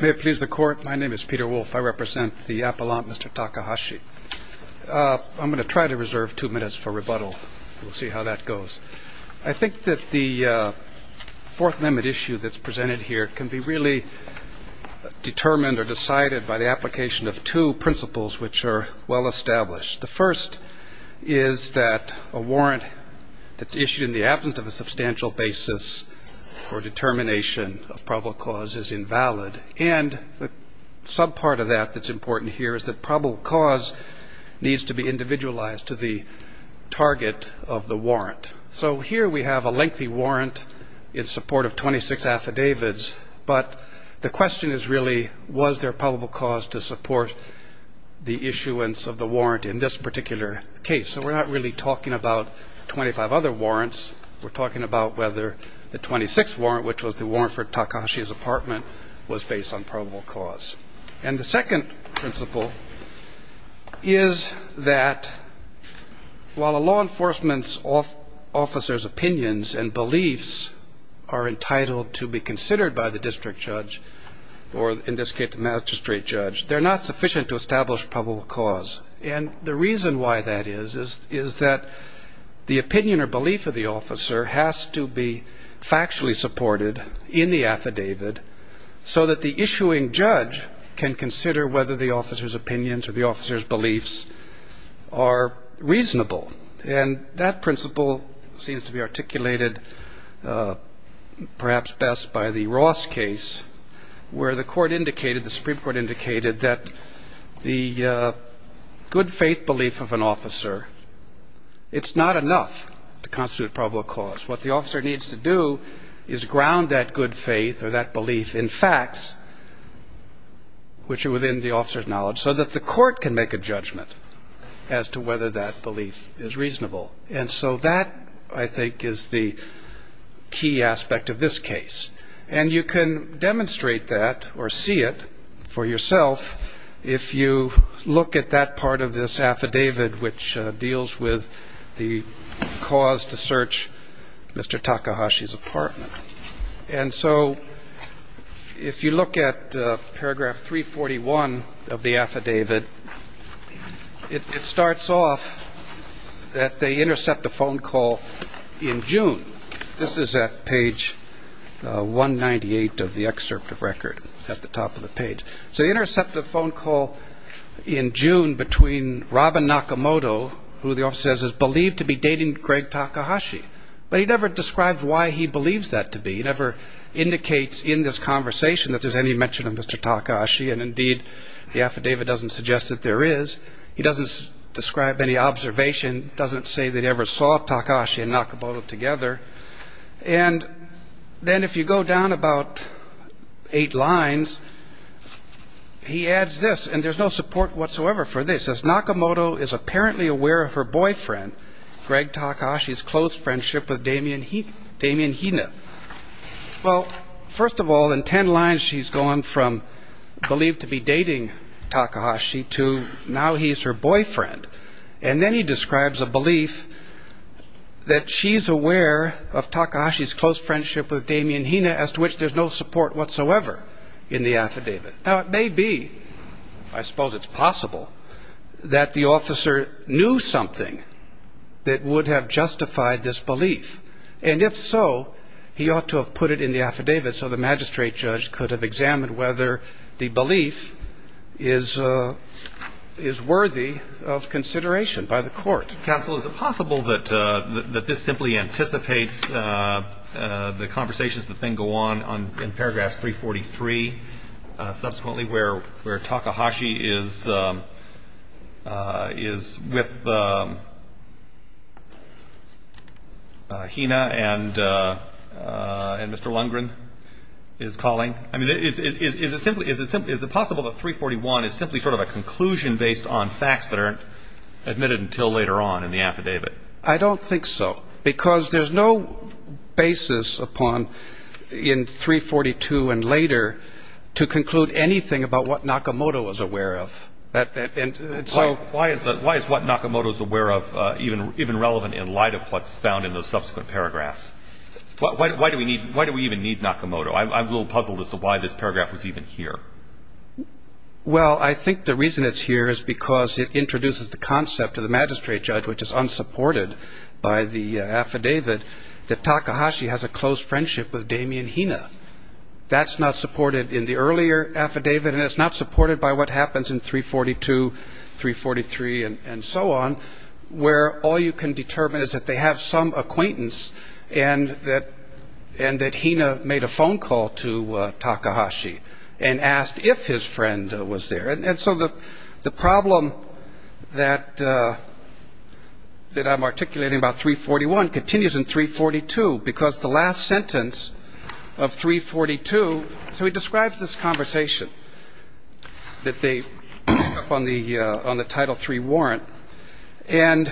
May it please the Court, my name is Peter Wolfe. I represent the Appellant, Mr. Takahashi. I'm going to try to reserve two minutes for rebuttal. We'll see how that goes. I think that the Fourth Amendment issue that's presented here can be really determined or decided by the application of two principles which are well established. The first is that a warrant that's issued in the absence of a substantial basis for determination of probable cause is invalid. And the subpart of that that's important here is that probable cause needs to be individualized to the target of the warrant. So here we have a lengthy warrant in support of 26 affidavits, but the question is really, was there probable cause to support the issuance of the warrant in this particular case? So we're not really talking about 25 other warrants. We're talking about whether the 26th warrant, which was the warrant for Takahashi's apartment, was based on probable cause. And the second principle is that while a law enforcement officer's opinions and beliefs are entitled to be considered by the district judge, or in this case the magistrate judge, they're not sufficient to establish probable cause. And the reason why that is is that the opinion or belief of the officer has to be factually supported in the affidavit so that the issuing judge can consider whether the officer's opinions or the officer's beliefs are reasonable. And that principle seems to be articulated perhaps best by the Ross case, where the Supreme Court indicated that the good faith belief of an officer, it's not enough to constitute probable cause. What the officer needs to do is ground that good faith or that belief in facts which are within the officer's knowledge so that the court can make a judgment as to whether that belief is reasonable. And so that, I think, is the key aspect of this case. And you can demonstrate that or see it for yourself if you look at that part of this affidavit, which deals with the cause to search Mr. Takahashi's apartment. And so if you look at paragraph 341 of the affidavit, it starts off that they intercept a phone call in June. This is at page 198 of the excerpt of record at the top of the page. So they intercept a phone call in June between Robin Nakamoto, who the officer says is believed to be dating Greg Takahashi. But he never describes why he believes that to be. He never indicates in this conversation that there's any mention of Mr. Takahashi. And, indeed, the affidavit doesn't suggest that there is. He doesn't describe any observation, doesn't say they ever saw Takahashi and Nakamoto together. And then if you go down about eight lines, he adds this. And there's no support whatsoever for this. It says, Nakamoto is apparently aware of her boyfriend, Greg Takahashi's close friendship with Damian Hina. Well, first of all, in ten lines she's going from believed to be dating Takahashi to now he's her boyfriend. And then he describes a belief that she's aware of Takahashi's close friendship with Damian Hina, as to which there's no support whatsoever in the affidavit. Now, it may be, I suppose it's possible, that the officer knew something that would have justified this belief. And if so, he ought to have put it in the affidavit so the magistrate judge could have examined whether the belief is worthy of consideration by the court. Counsel, is it possible that this simply anticipates the conversations that then go on in paragraph 343, subsequently, where Takahashi is with Hina and Mr. Lundgren is calling? I mean, is it possible that 341 is simply sort of a conclusion based on facts that aren't admitted until later on in the affidavit? I don't think so, because there's no basis upon in 342 and later to conclude anything about what Nakamoto was aware of. Why is what Nakamoto is aware of even relevant in light of what's found in the subsequent paragraphs? Why do we even need Nakamoto? I'm a little puzzled as to why this paragraph was even here. Well, I think the reason it's here is because it introduces the concept to the magistrate judge, which is unsupported by the affidavit, that Takahashi has a close friendship with Damian Hina. That's not supported in the earlier affidavit, and it's not supported by what happens in 342, 343, and so on, where all you can determine is that they have some acquaintance and that Hina made a phone call to Takahashi and asked if his friend was there. And so the problem that I'm articulating about 341 continues in 342, because the last sentence of 342 – so he describes this conversation that they pick up on the Title III warrant, and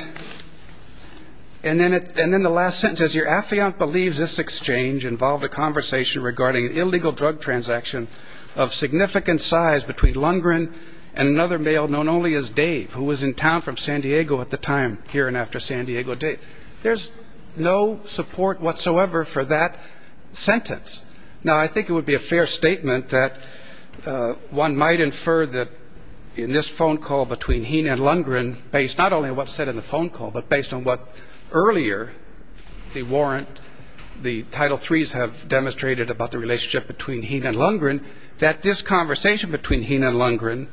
then the last sentence says, Your affiant believes this exchange involved a conversation regarding an illegal drug transaction of significant size between Lundgren and another male known only as Dave, who was in town from San Diego at the time, here and after San Diego Day. There's no support whatsoever for that sentence. Now, I think it would be a fair statement that one might infer that in this phone call between Hina and Lundgren, based not only on what's said in the phone call, but based on what's earlier, the warrant, the Title IIIs have demonstrated about the relationship between Hina and Lundgren, that this conversation between Hina and Lundgren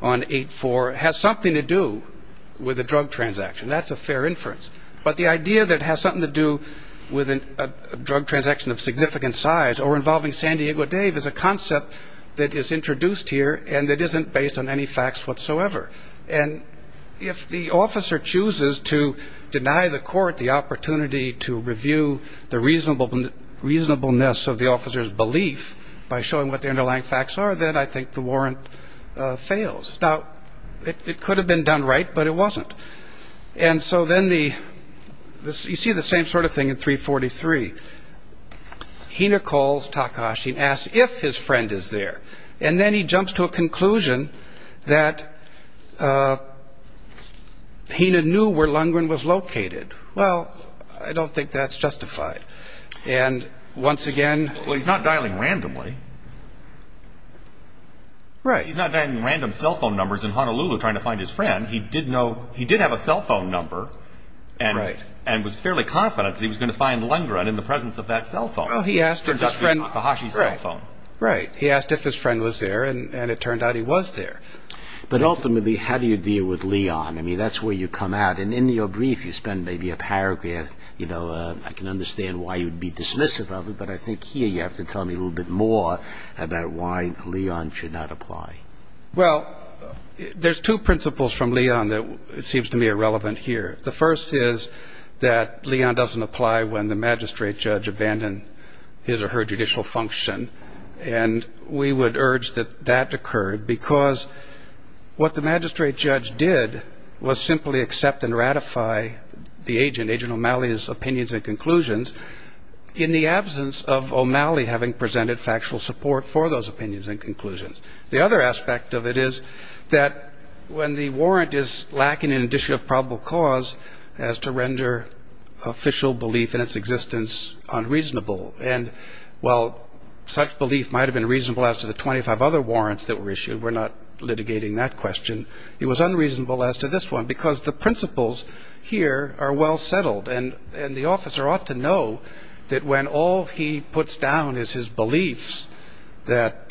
on 8-4 has something to do with a drug transaction. That's a fair inference. But the idea that it has something to do with a drug transaction of significant size or involving San Diego Dave is a concept that is introduced here and that isn't based on any facts whatsoever. And if the officer chooses to deny the court the opportunity to review the reasonableness of the officer's belief by showing what the underlying facts are, then I think the warrant fails. Now, it could have been done right, but it wasn't. And so then you see the same sort of thing in 343. Hina calls Takahashi and asks if his friend is there. And then he jumps to a conclusion that Hina knew where Lundgren was located. Well, I don't think that's justified. And once again... Well, he's not dialing randomly. Right. He's not dialing random cell phone numbers in Honolulu trying to find his friend. He did have a cell phone number and was fairly confident that he was going to find Lundgren in the presence of that cell phone. Well, he asked if his friend... Takahashi's cell phone. Right. He asked if his friend was there, and it turned out he was there. But ultimately, how do you deal with Leon? I mean, that's where you come out. And in your brief, you spend maybe a paragraph. I can understand why you'd be dismissive of it, but I think here you have to tell me a little bit more about why Leon should not apply. Well, there's two principles from Leon that seems to me are relevant here. The first is that Leon doesn't apply when the magistrate judge abandoned his or her judicial function. And we would urge that that occurred, because what the magistrate judge did was simply accept and ratify the agent, Agent O'Malley's opinions and conclusions, in the absence of O'Malley having presented factual support for those opinions and conclusions. The other aspect of it is that when the warrant is lacking in an issue of probable cause as to render official belief in its existence unreasonable, and while such belief might have been reasonable as to the 25 other warrants that were issued, we're not litigating that question, it was unreasonable as to this one, because the principles here are well settled. And the officer ought to know that when all he puts down is his beliefs that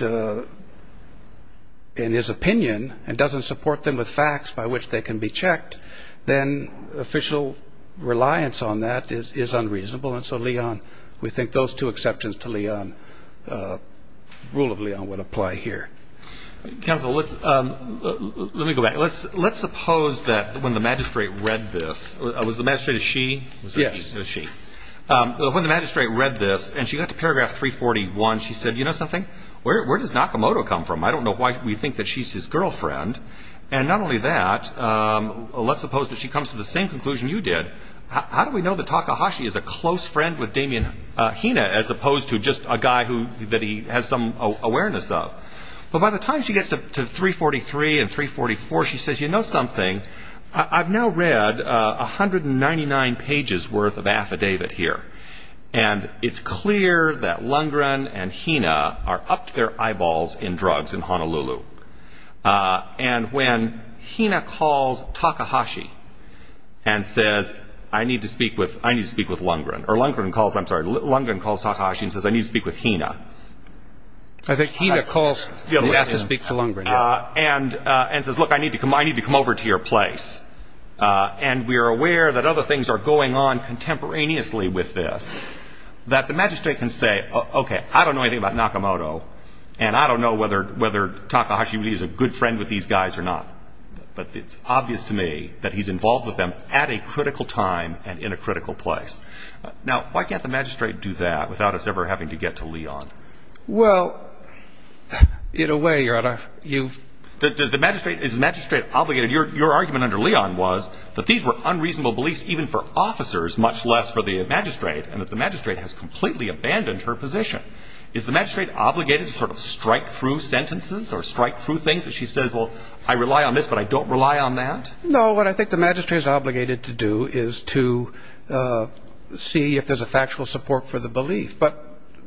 in his opinion, and doesn't support them with facts by which they can be checked, then official reliance on that is unreasonable. And so Leon, we think those two exceptions to Leon, rule of Leon, would apply here. Counsel, let me go back. Let's suppose that when the magistrate read this, was the magistrate a she? Yes. A she. When the magistrate read this, and she got to paragraph 341, she said, you know something, where does Nakamoto come from? I don't know why we think that she's his girlfriend. And not only that, let's suppose that she comes to the same conclusion you did. How do we know that Takahashi is a close friend with Damian Hina, as opposed to just a guy that he has some awareness of? But by the time she gets to 343 and 344, she says, you know something, I've now read 199 pages worth of affidavit here, and it's clear that Lundgren and Hina are up to their eyeballs in drugs in Honolulu. And when Hina calls Takahashi and says, I need to speak with Lundgren, or Lundgren calls, I'm sorry, Lundgren calls Takahashi and says, I need to speak with Hina. I think Hina calls and he has to speak to Lundgren. And says, look, I need to come over to your place. And we are aware that other things are going on contemporaneously with this, that the magistrate can say, okay, I don't know anything about Nakamoto, and I don't know whether Takahashi really is a good friend with these guys or not, but it's obvious to me that he's involved with them at a critical time and in a critical place. Now, why can't the magistrate do that without us ever having to get to Leon? Well, in a way, Your Honor, you've ‑‑ Is the magistrate obligated? Your argument under Leon was that these were unreasonable beliefs even for officers, much less for the magistrate, and that the magistrate has completely abandoned her position. Is the magistrate obligated to sort of strike through sentences or strike through things that she says, well, I rely on this, but I don't rely on that? No, what I think the magistrate is obligated to do is to see if there's a factual support for the belief. But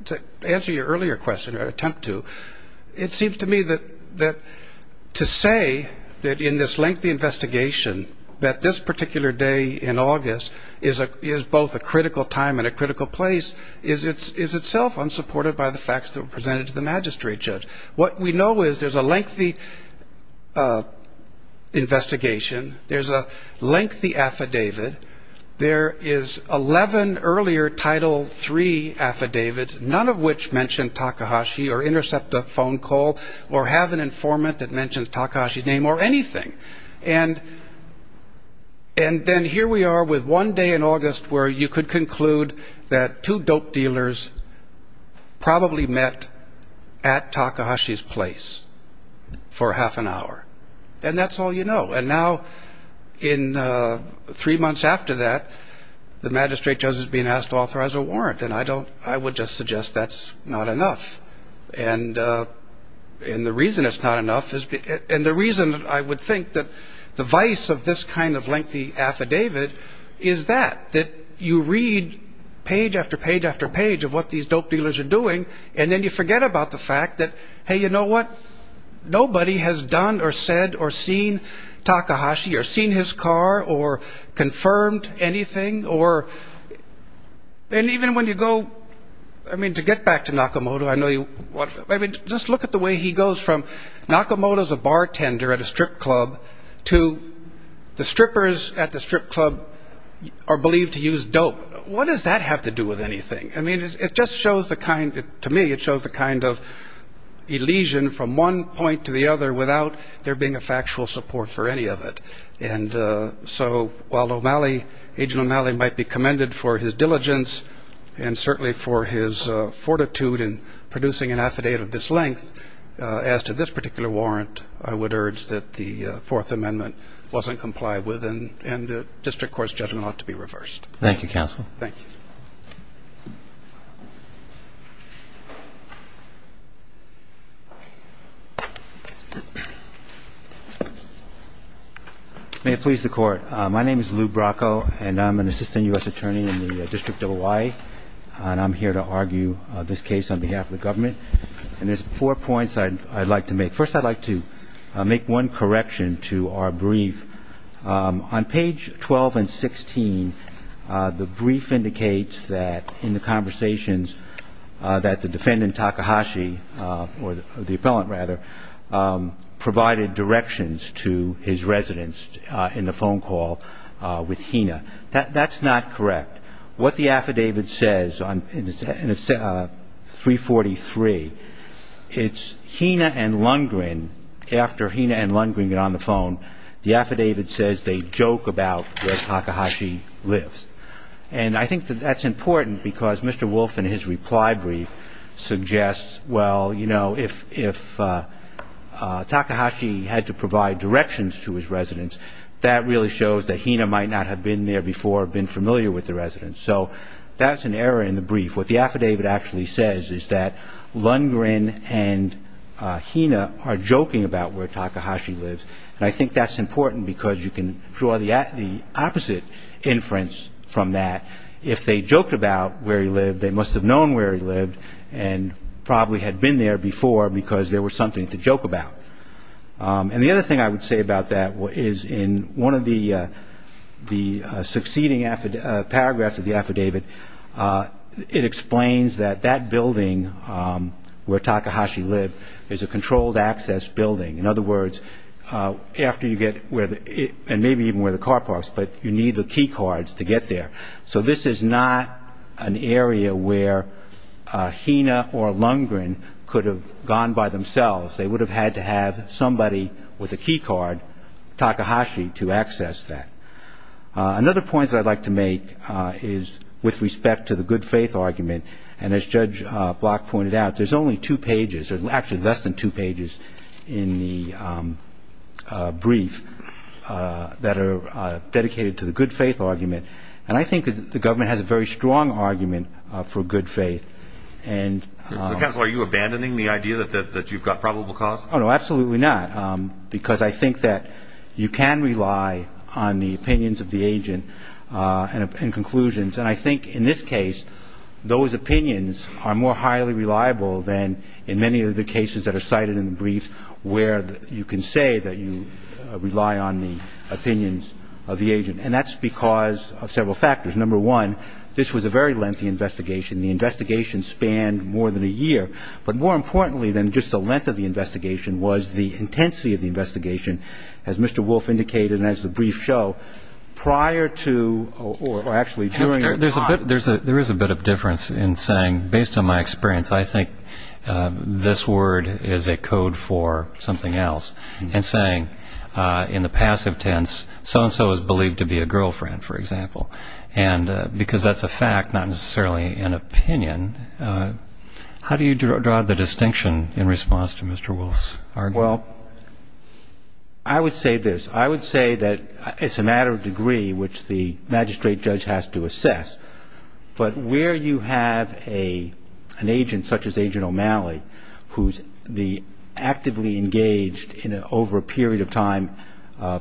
to answer your earlier question, or attempt to, it seems to me that to say that in this lengthy investigation, that this particular day in August is both a critical time and a critical place, is itself unsupported by the facts that were presented to the magistrate judge. What we know is there's a lengthy investigation, there's a lengthy affidavit, there is 11 earlier Title III affidavits, none of which mention Takahashi or intercept a phone call or have an informant that mentions Takahashi's name or anything. And then here we are with one day in August where you could conclude that two dope dealers probably met at Takahashi. Takahashi's place for half an hour, and that's all you know. And now in three months after that, the magistrate judge is being asked to authorize a warrant, and I would just suggest that's not enough. And the reason it's not enough, and the reason I would think that the vice of this kind of lengthy affidavit is that, that you read page after page after page of what these dope dealers are doing, and then you forget about the fact that, hey, you know what, nobody has done or said or seen Takahashi or seen his car or confirmed anything or, and even when you go, I mean, to get back to Nakamoto, I know you, I mean, just look at the way he goes from Nakamoto's a bartender at a strip club to the strippers at the strip club are believed to use dope. What does that have to do with anything? I mean, it just shows the kind, to me, it shows the kind of elision from one point to the other without there being a factual support for any of it. And so while O'Malley, Agent O'Malley might be commended for his diligence and certainly for his fortitude in producing an affidavit of this length, as to this particular warrant, I would urge that the Fourth Amendment wasn't complied with, and the district court's judgment ought to be reversed. Thank you, counsel. Thank you. May it please the court. My name is Lou Bracco, and I'm an assistant U.S. attorney in the District of Hawaii, and I'm here to argue this case on behalf of the government. And there's four points I'd like to make. First, I'd like to make one correction to our brief. On page 12 and 16, the brief indicates that in the conversations that the defendant, Takahashi, or the appellant, rather, provided directions to his residence in the phone call with Hina. That's not correct. What the affidavit says in 343, it's Hina and Lundgren, after Hina and Lundgren get on the phone, the affidavit says they joke about where Takahashi lives. And I think that that's important, because Mr. Wolfe, in his reply brief, suggests, well, you know, if Takahashi had to provide directions to his residence, that really shows that Hina might not have been there before or been familiar with the residence. So that's an error in the brief. What the affidavit actually says is that Lundgren and Hina are joking about where Takahashi lives, and I think that's important, because you can draw the opposite inference from that. If they joked about where he lived, they must have known where he lived and probably had been there before, because there was something to joke about. And the other thing I would say about that is in one of the succeeding paragraphs of the affidavit, it explains that that building where Takahashi lived is a controlled access building. In other words, after you get where the ñ and maybe even where the car parks, but you need the key cards to get there. So this is not an area where Hina or Lundgren could have gone by themselves. They would have had to have somebody with a key card, Takahashi, to access that. Another point that I'd like to make is with respect to the good faith argument, and as Judge Block pointed out, there's only two pages, or actually less than two pages in the brief that are dedicated to the good faith argument. And I think that the government has a very strong argument for good faith. Counsel, are you abandoning the idea that you've got probable cause? Oh, no, absolutely not, because I think that you can rely on the opinions of the agent and conclusions. And I think in this case, those opinions are more highly reliable than in many of the cases that are cited in the briefs, where you can say that you rely on the opinions of the agent. And that's because of several factors. Number one, this was a very lengthy investigation. The investigation spanned more than a year. But more importantly than just the length of the investigation was the intensity of the investigation, as Mr. Wolf indicated and as the briefs show, prior to or actually during your time. There is a bit of difference in saying, based on my experience, I think this word is a code for something else, and saying in the passive tense, so-and-so is believed to be a girlfriend, for example. And because that's a fact, not necessarily an opinion, how do you draw the distinction in response to Mr. Wolf's argument? Well, I would say this. I would say that it's a matter of degree, which the magistrate judge has to assess. But where you have an agent such as Agent O'Malley, who's actively engaged over a period of time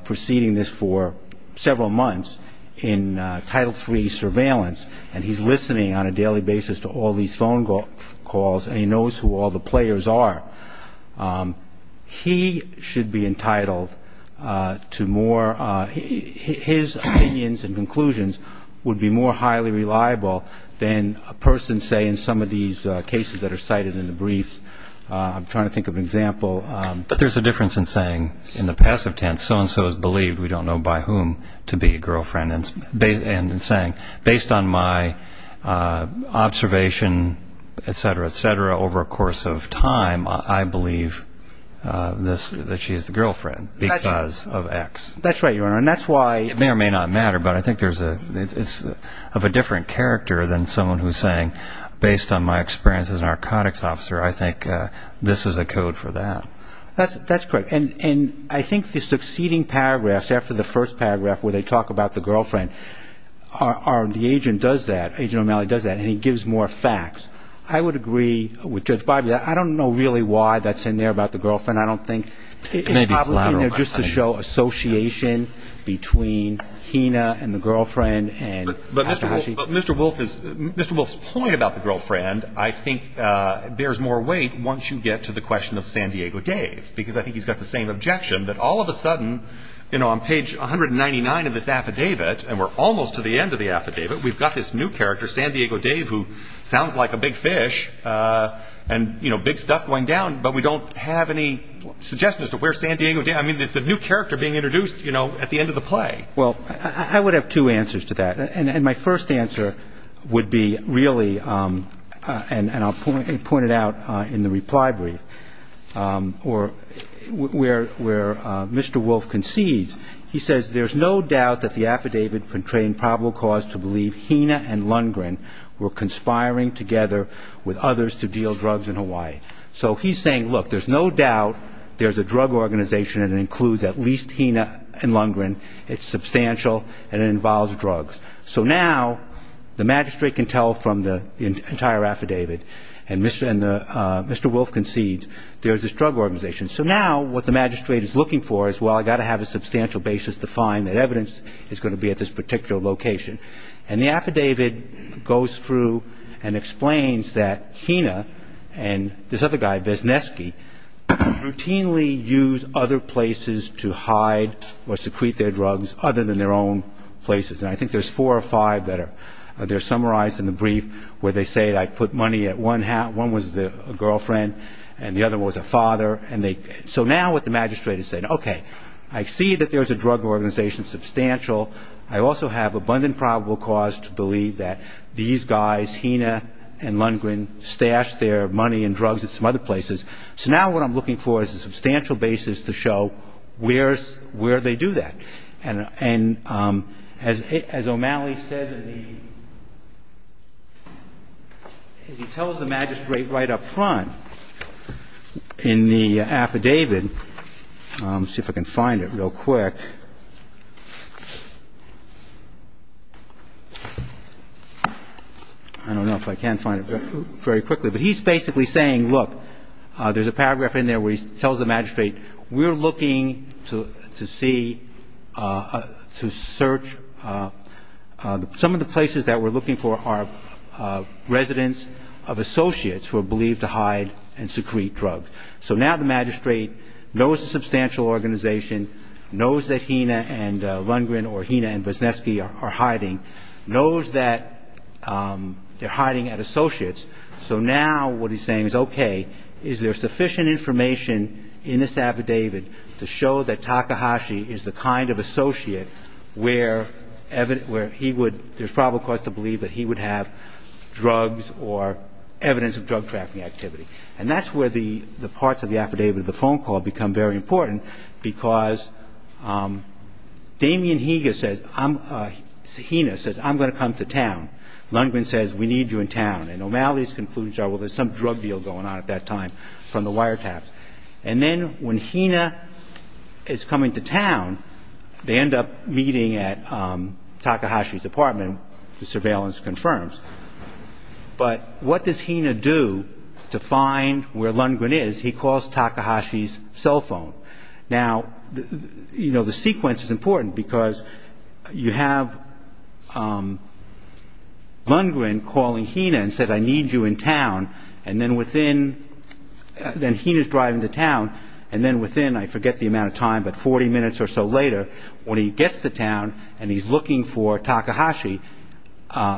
preceding this for several months in Title III surveillance, and he's listening on a daily basis to all these phone calls and he knows who all the players are, he should be entitled to more, his opinions and conclusions would be more highly reliable than a person, say, in some of these cases that are cited in the briefs. I'm trying to think of an example. But there's a difference in saying, in the passive tense, so-and-so is believed, we don't know by whom, to be a girlfriend, and saying, based on my observation, et cetera, et cetera, over a course of time, I believe that she is the girlfriend because of X. That's right, Your Honor. It may or may not matter, but I think it's of a different character than someone who's saying, based on my experience as a narcotics officer, I think this is a code for that. That's correct. And I think the succeeding paragraphs, after the first paragraph where they talk about the girlfriend, the agent does that, Agent O'Malley does that, and he gives more facts. I would agree with Judge Barber that I don't know really why that's in there about the girlfriend. I don't think it's probably in there just to show association between Hina and the girlfriend. But, Mr. Wolf, Mr. Wolf's point about the girlfriend, I think, is the same objection, that all of a sudden, on page 199 of this affidavit, and we're almost to the end of the affidavit, we've got this new character, San Diego Dave, who sounds like a big fish and big stuff going down, but we don't have any suggestions as to where San Diego Dave is. I mean, it's a new character being introduced at the end of the play. Well, I would have two answers to that. And my first answer would be really, and I'll point it out in the reply brief, where Mr. Wolf concedes, he says, there's no doubt that the affidavit portraying probable cause to believe Hina and Lundgren were conspiring together with others to deal drugs in Hawaii. So he's saying, look, there's no doubt there's a drug organization that includes at least Hina and Lundgren. It's substantial, and it involves drugs. So now the magistrate can tell from the entire affidavit, and Mr. Wolf concedes, there's this drug organization. So now what the magistrate is looking for is, well, I've got to have a substantial basis to find that evidence is going to be at this particular location. And the affidavit goes through and explains that Hina and this other guy, Vesnesky, routinely use other places to hide or secrete their drugs other than their own places. And I think there's four or five that are summarized in the brief where they say, I put money at one house, one was a girlfriend and the other was a father. So now what the magistrate is saying, okay, I see that there's a drug organization, substantial. I also have abundant probable cause to believe that these guys, Hina and Lundgren, stashed their money and drugs at some other places. So now what I'm looking for is a substantial basis to show where they do that. And as O'Malley said, as he tells the magistrate right up front in the affidavit, let's see if I can find it real quick. I don't know if I can find it very quickly. But he's basically saying, look, there's a paragraph in there where he tells the magistrate, we're looking to see, to search, some of the places that we're looking for are residents of associates who are believed to hide and secrete drugs. So now the magistrate knows the substantial organization, knows that Hina and Lundgren or Hina and Busnesky are hiding, knows that they're hiding at associates, so now what he's saying is, okay, is there sufficient information in this affidavit to show that Takahashi is the kind of associate where he would, there's probable cause to believe that he would have drugs or evidence of drug trafficking activity. And that's where the parts of the affidavit of the phone call become very important, because Damian Higa says, Hina says, I'm going to come to town. Lundgren says, we need you in town. And O'Malley concludes, well, there's some drug deal going on at that time from the wiretaps. And then when Hina is coming to town, they end up meeting at Takahashi's apartment, the surveillance confirms. But what does Hina do to find where Lundgren is? He calls Takahashi's cell phone. Now, the sequence is important, because you have Lundgren calling Hina and said, I need you in town, and then within, then Hina's driving to town, and then within, I forget the amount of time, but 40 minutes or so later, when he gets to town and he's looking for Takahashi,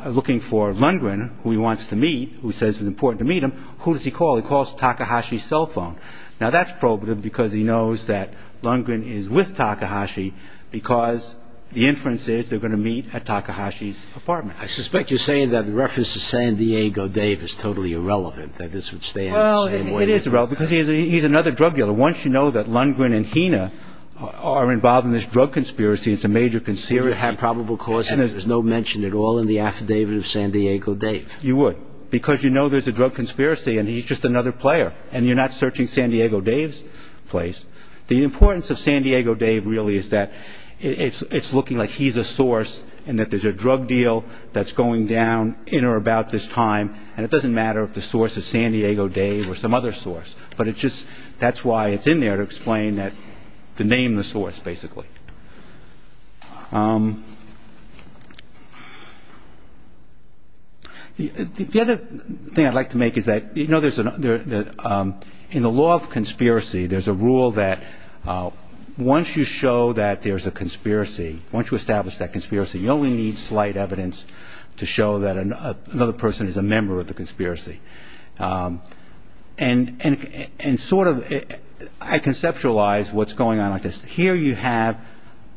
looking for Lundgren, who he wants to meet, who says it's important to meet him, who does he call? He calls Takahashi's cell phone. Now, that's probative, because he knows that Lundgren is with Takahashi, because the inference is they're going to meet at Takahashi's apartment. I suspect you're saying that the reference to San Diego Dave is totally irrelevant, that this would stay in the same way. It is irrelevant, because he's another drug dealer. Once you know that Lundgren and Hina are involved in this drug conspiracy, it's a major conspiracy. They would have probable cause, and there's no mention at all in the affidavit of San Diego Dave. You would, because you know there's a drug conspiracy, and he's just another player, and you're not searching San Diego Dave's place. The importance of San Diego Dave really is that it's looking like he's a source and that there's a drug deal that's going down in or about this time, and it doesn't matter if the source is San Diego Dave or some other source, but that's why it's in there to explain the name of the source, basically. The other thing I'd like to make is that in the law of conspiracy, there's a rule that once you show that there's a conspiracy, once you establish that conspiracy, you only need slight evidence to show that another person is a member of the conspiracy. And sort of I conceptualize what's going on like this. Here you have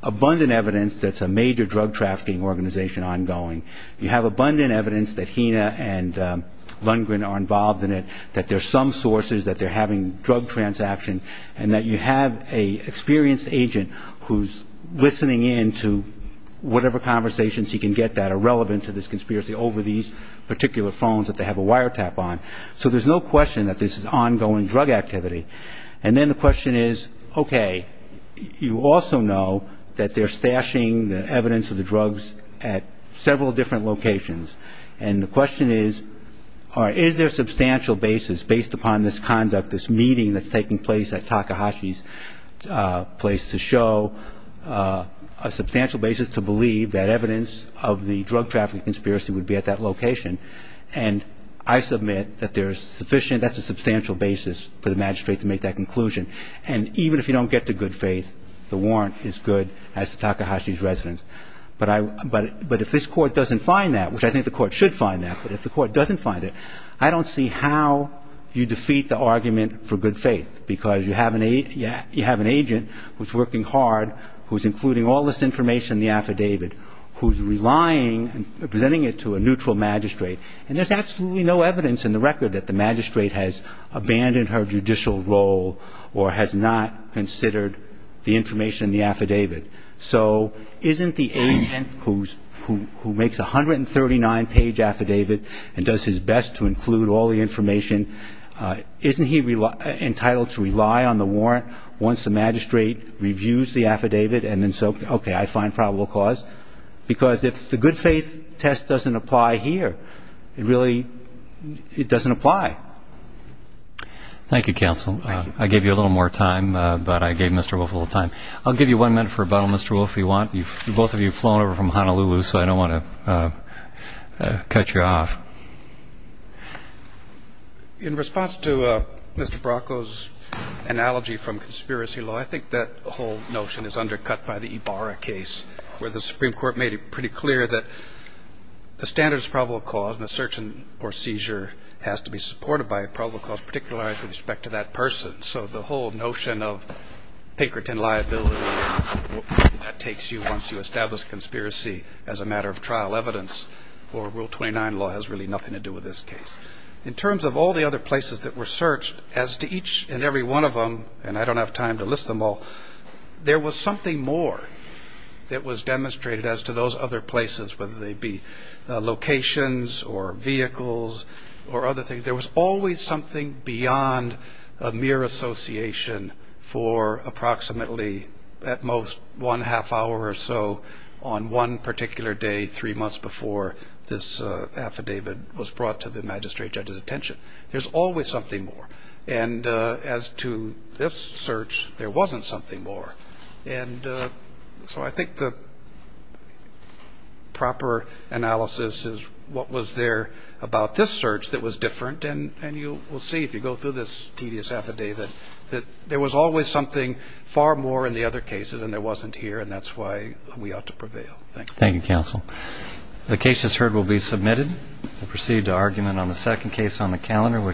abundant evidence that's a major drug trafficking organization ongoing. You have abundant evidence that Hina and Lundgren are involved in it, that there's some sources that they're having drug transactions, and that you have an experienced agent who's listening in to whatever conversations he can get that are relevant to this conspiracy over these particular phones that they have a wiretap on. So there's no question that this is ongoing drug activity. And then the question is, okay, you also know that they're stashing the evidence of the drugs at several different locations. And the question is, is there a substantial basis based upon this conduct, this meeting that's taking place at Takahashi's place, to show a substantial basis to believe that evidence of the drug trafficking conspiracy would be at that location? And I submit that there's sufficient, that's a substantial basis for the magistrate to make that conclusion. And even if you don't get to good faith, the warrant is good as to Takahashi's residence. But if this court doesn't find that, which I think the court should find that, but if the court doesn't find it, I don't see how you defeat the argument for good faith, because you have an agent who's working hard, who's including all this information in the affidavit, who's relying, presenting it to a neutral magistrate. And there's absolutely no evidence in the record that the magistrate has abandoned her judicial role or has not considered the information in the affidavit. So isn't the agent who makes a 139-page affidavit and does his best to include all the information, isn't he entitled to rely on the warrant once the magistrate reviews the affidavit and then says, okay, I find probable cause? Because if the good faith test doesn't apply here, it really doesn't apply. Thank you, counsel. Thank you. I gave you a little more time, but I gave Mr. Wolf a little time. I'll give you one minute for a bottle, Mr. Wolf, if you want. Both of you have flown over from Honolulu, so I don't want to cut you off. In response to Mr. Bracco's analogy from conspiracy law, I think that whole notion is undercut by the Ibarra case, where the Supreme Court made it pretty clear that the standard is probable cause, and the search or seizure has to be supported by probable cause, particularly with respect to that person. So the whole notion of Pinkerton liability, that takes you once you establish a conspiracy as a matter of trial evidence, or Rule 29 law has really nothing to do with this case. In terms of all the other places that were searched, as to each and every one of them, and I don't have time to list them all, there was something more that was demonstrated as to those other places, whether they be locations or vehicles or other things. There was always something beyond a mere association for approximately, at most, one half hour or so on one particular day, three months before this affidavit was brought to the magistrate judge's attention. There's always something more. And as to this search, there wasn't something more. So I think the proper analysis is what was there about this search that was different, and you will see if you go through this tedious affidavit that there was always something far more in the other cases, and there wasn't here, and that's why we ought to prevail. Thank you. Thank you, counsel. The case just heard will be submitted. We'll proceed to argument on the second case on the calendar.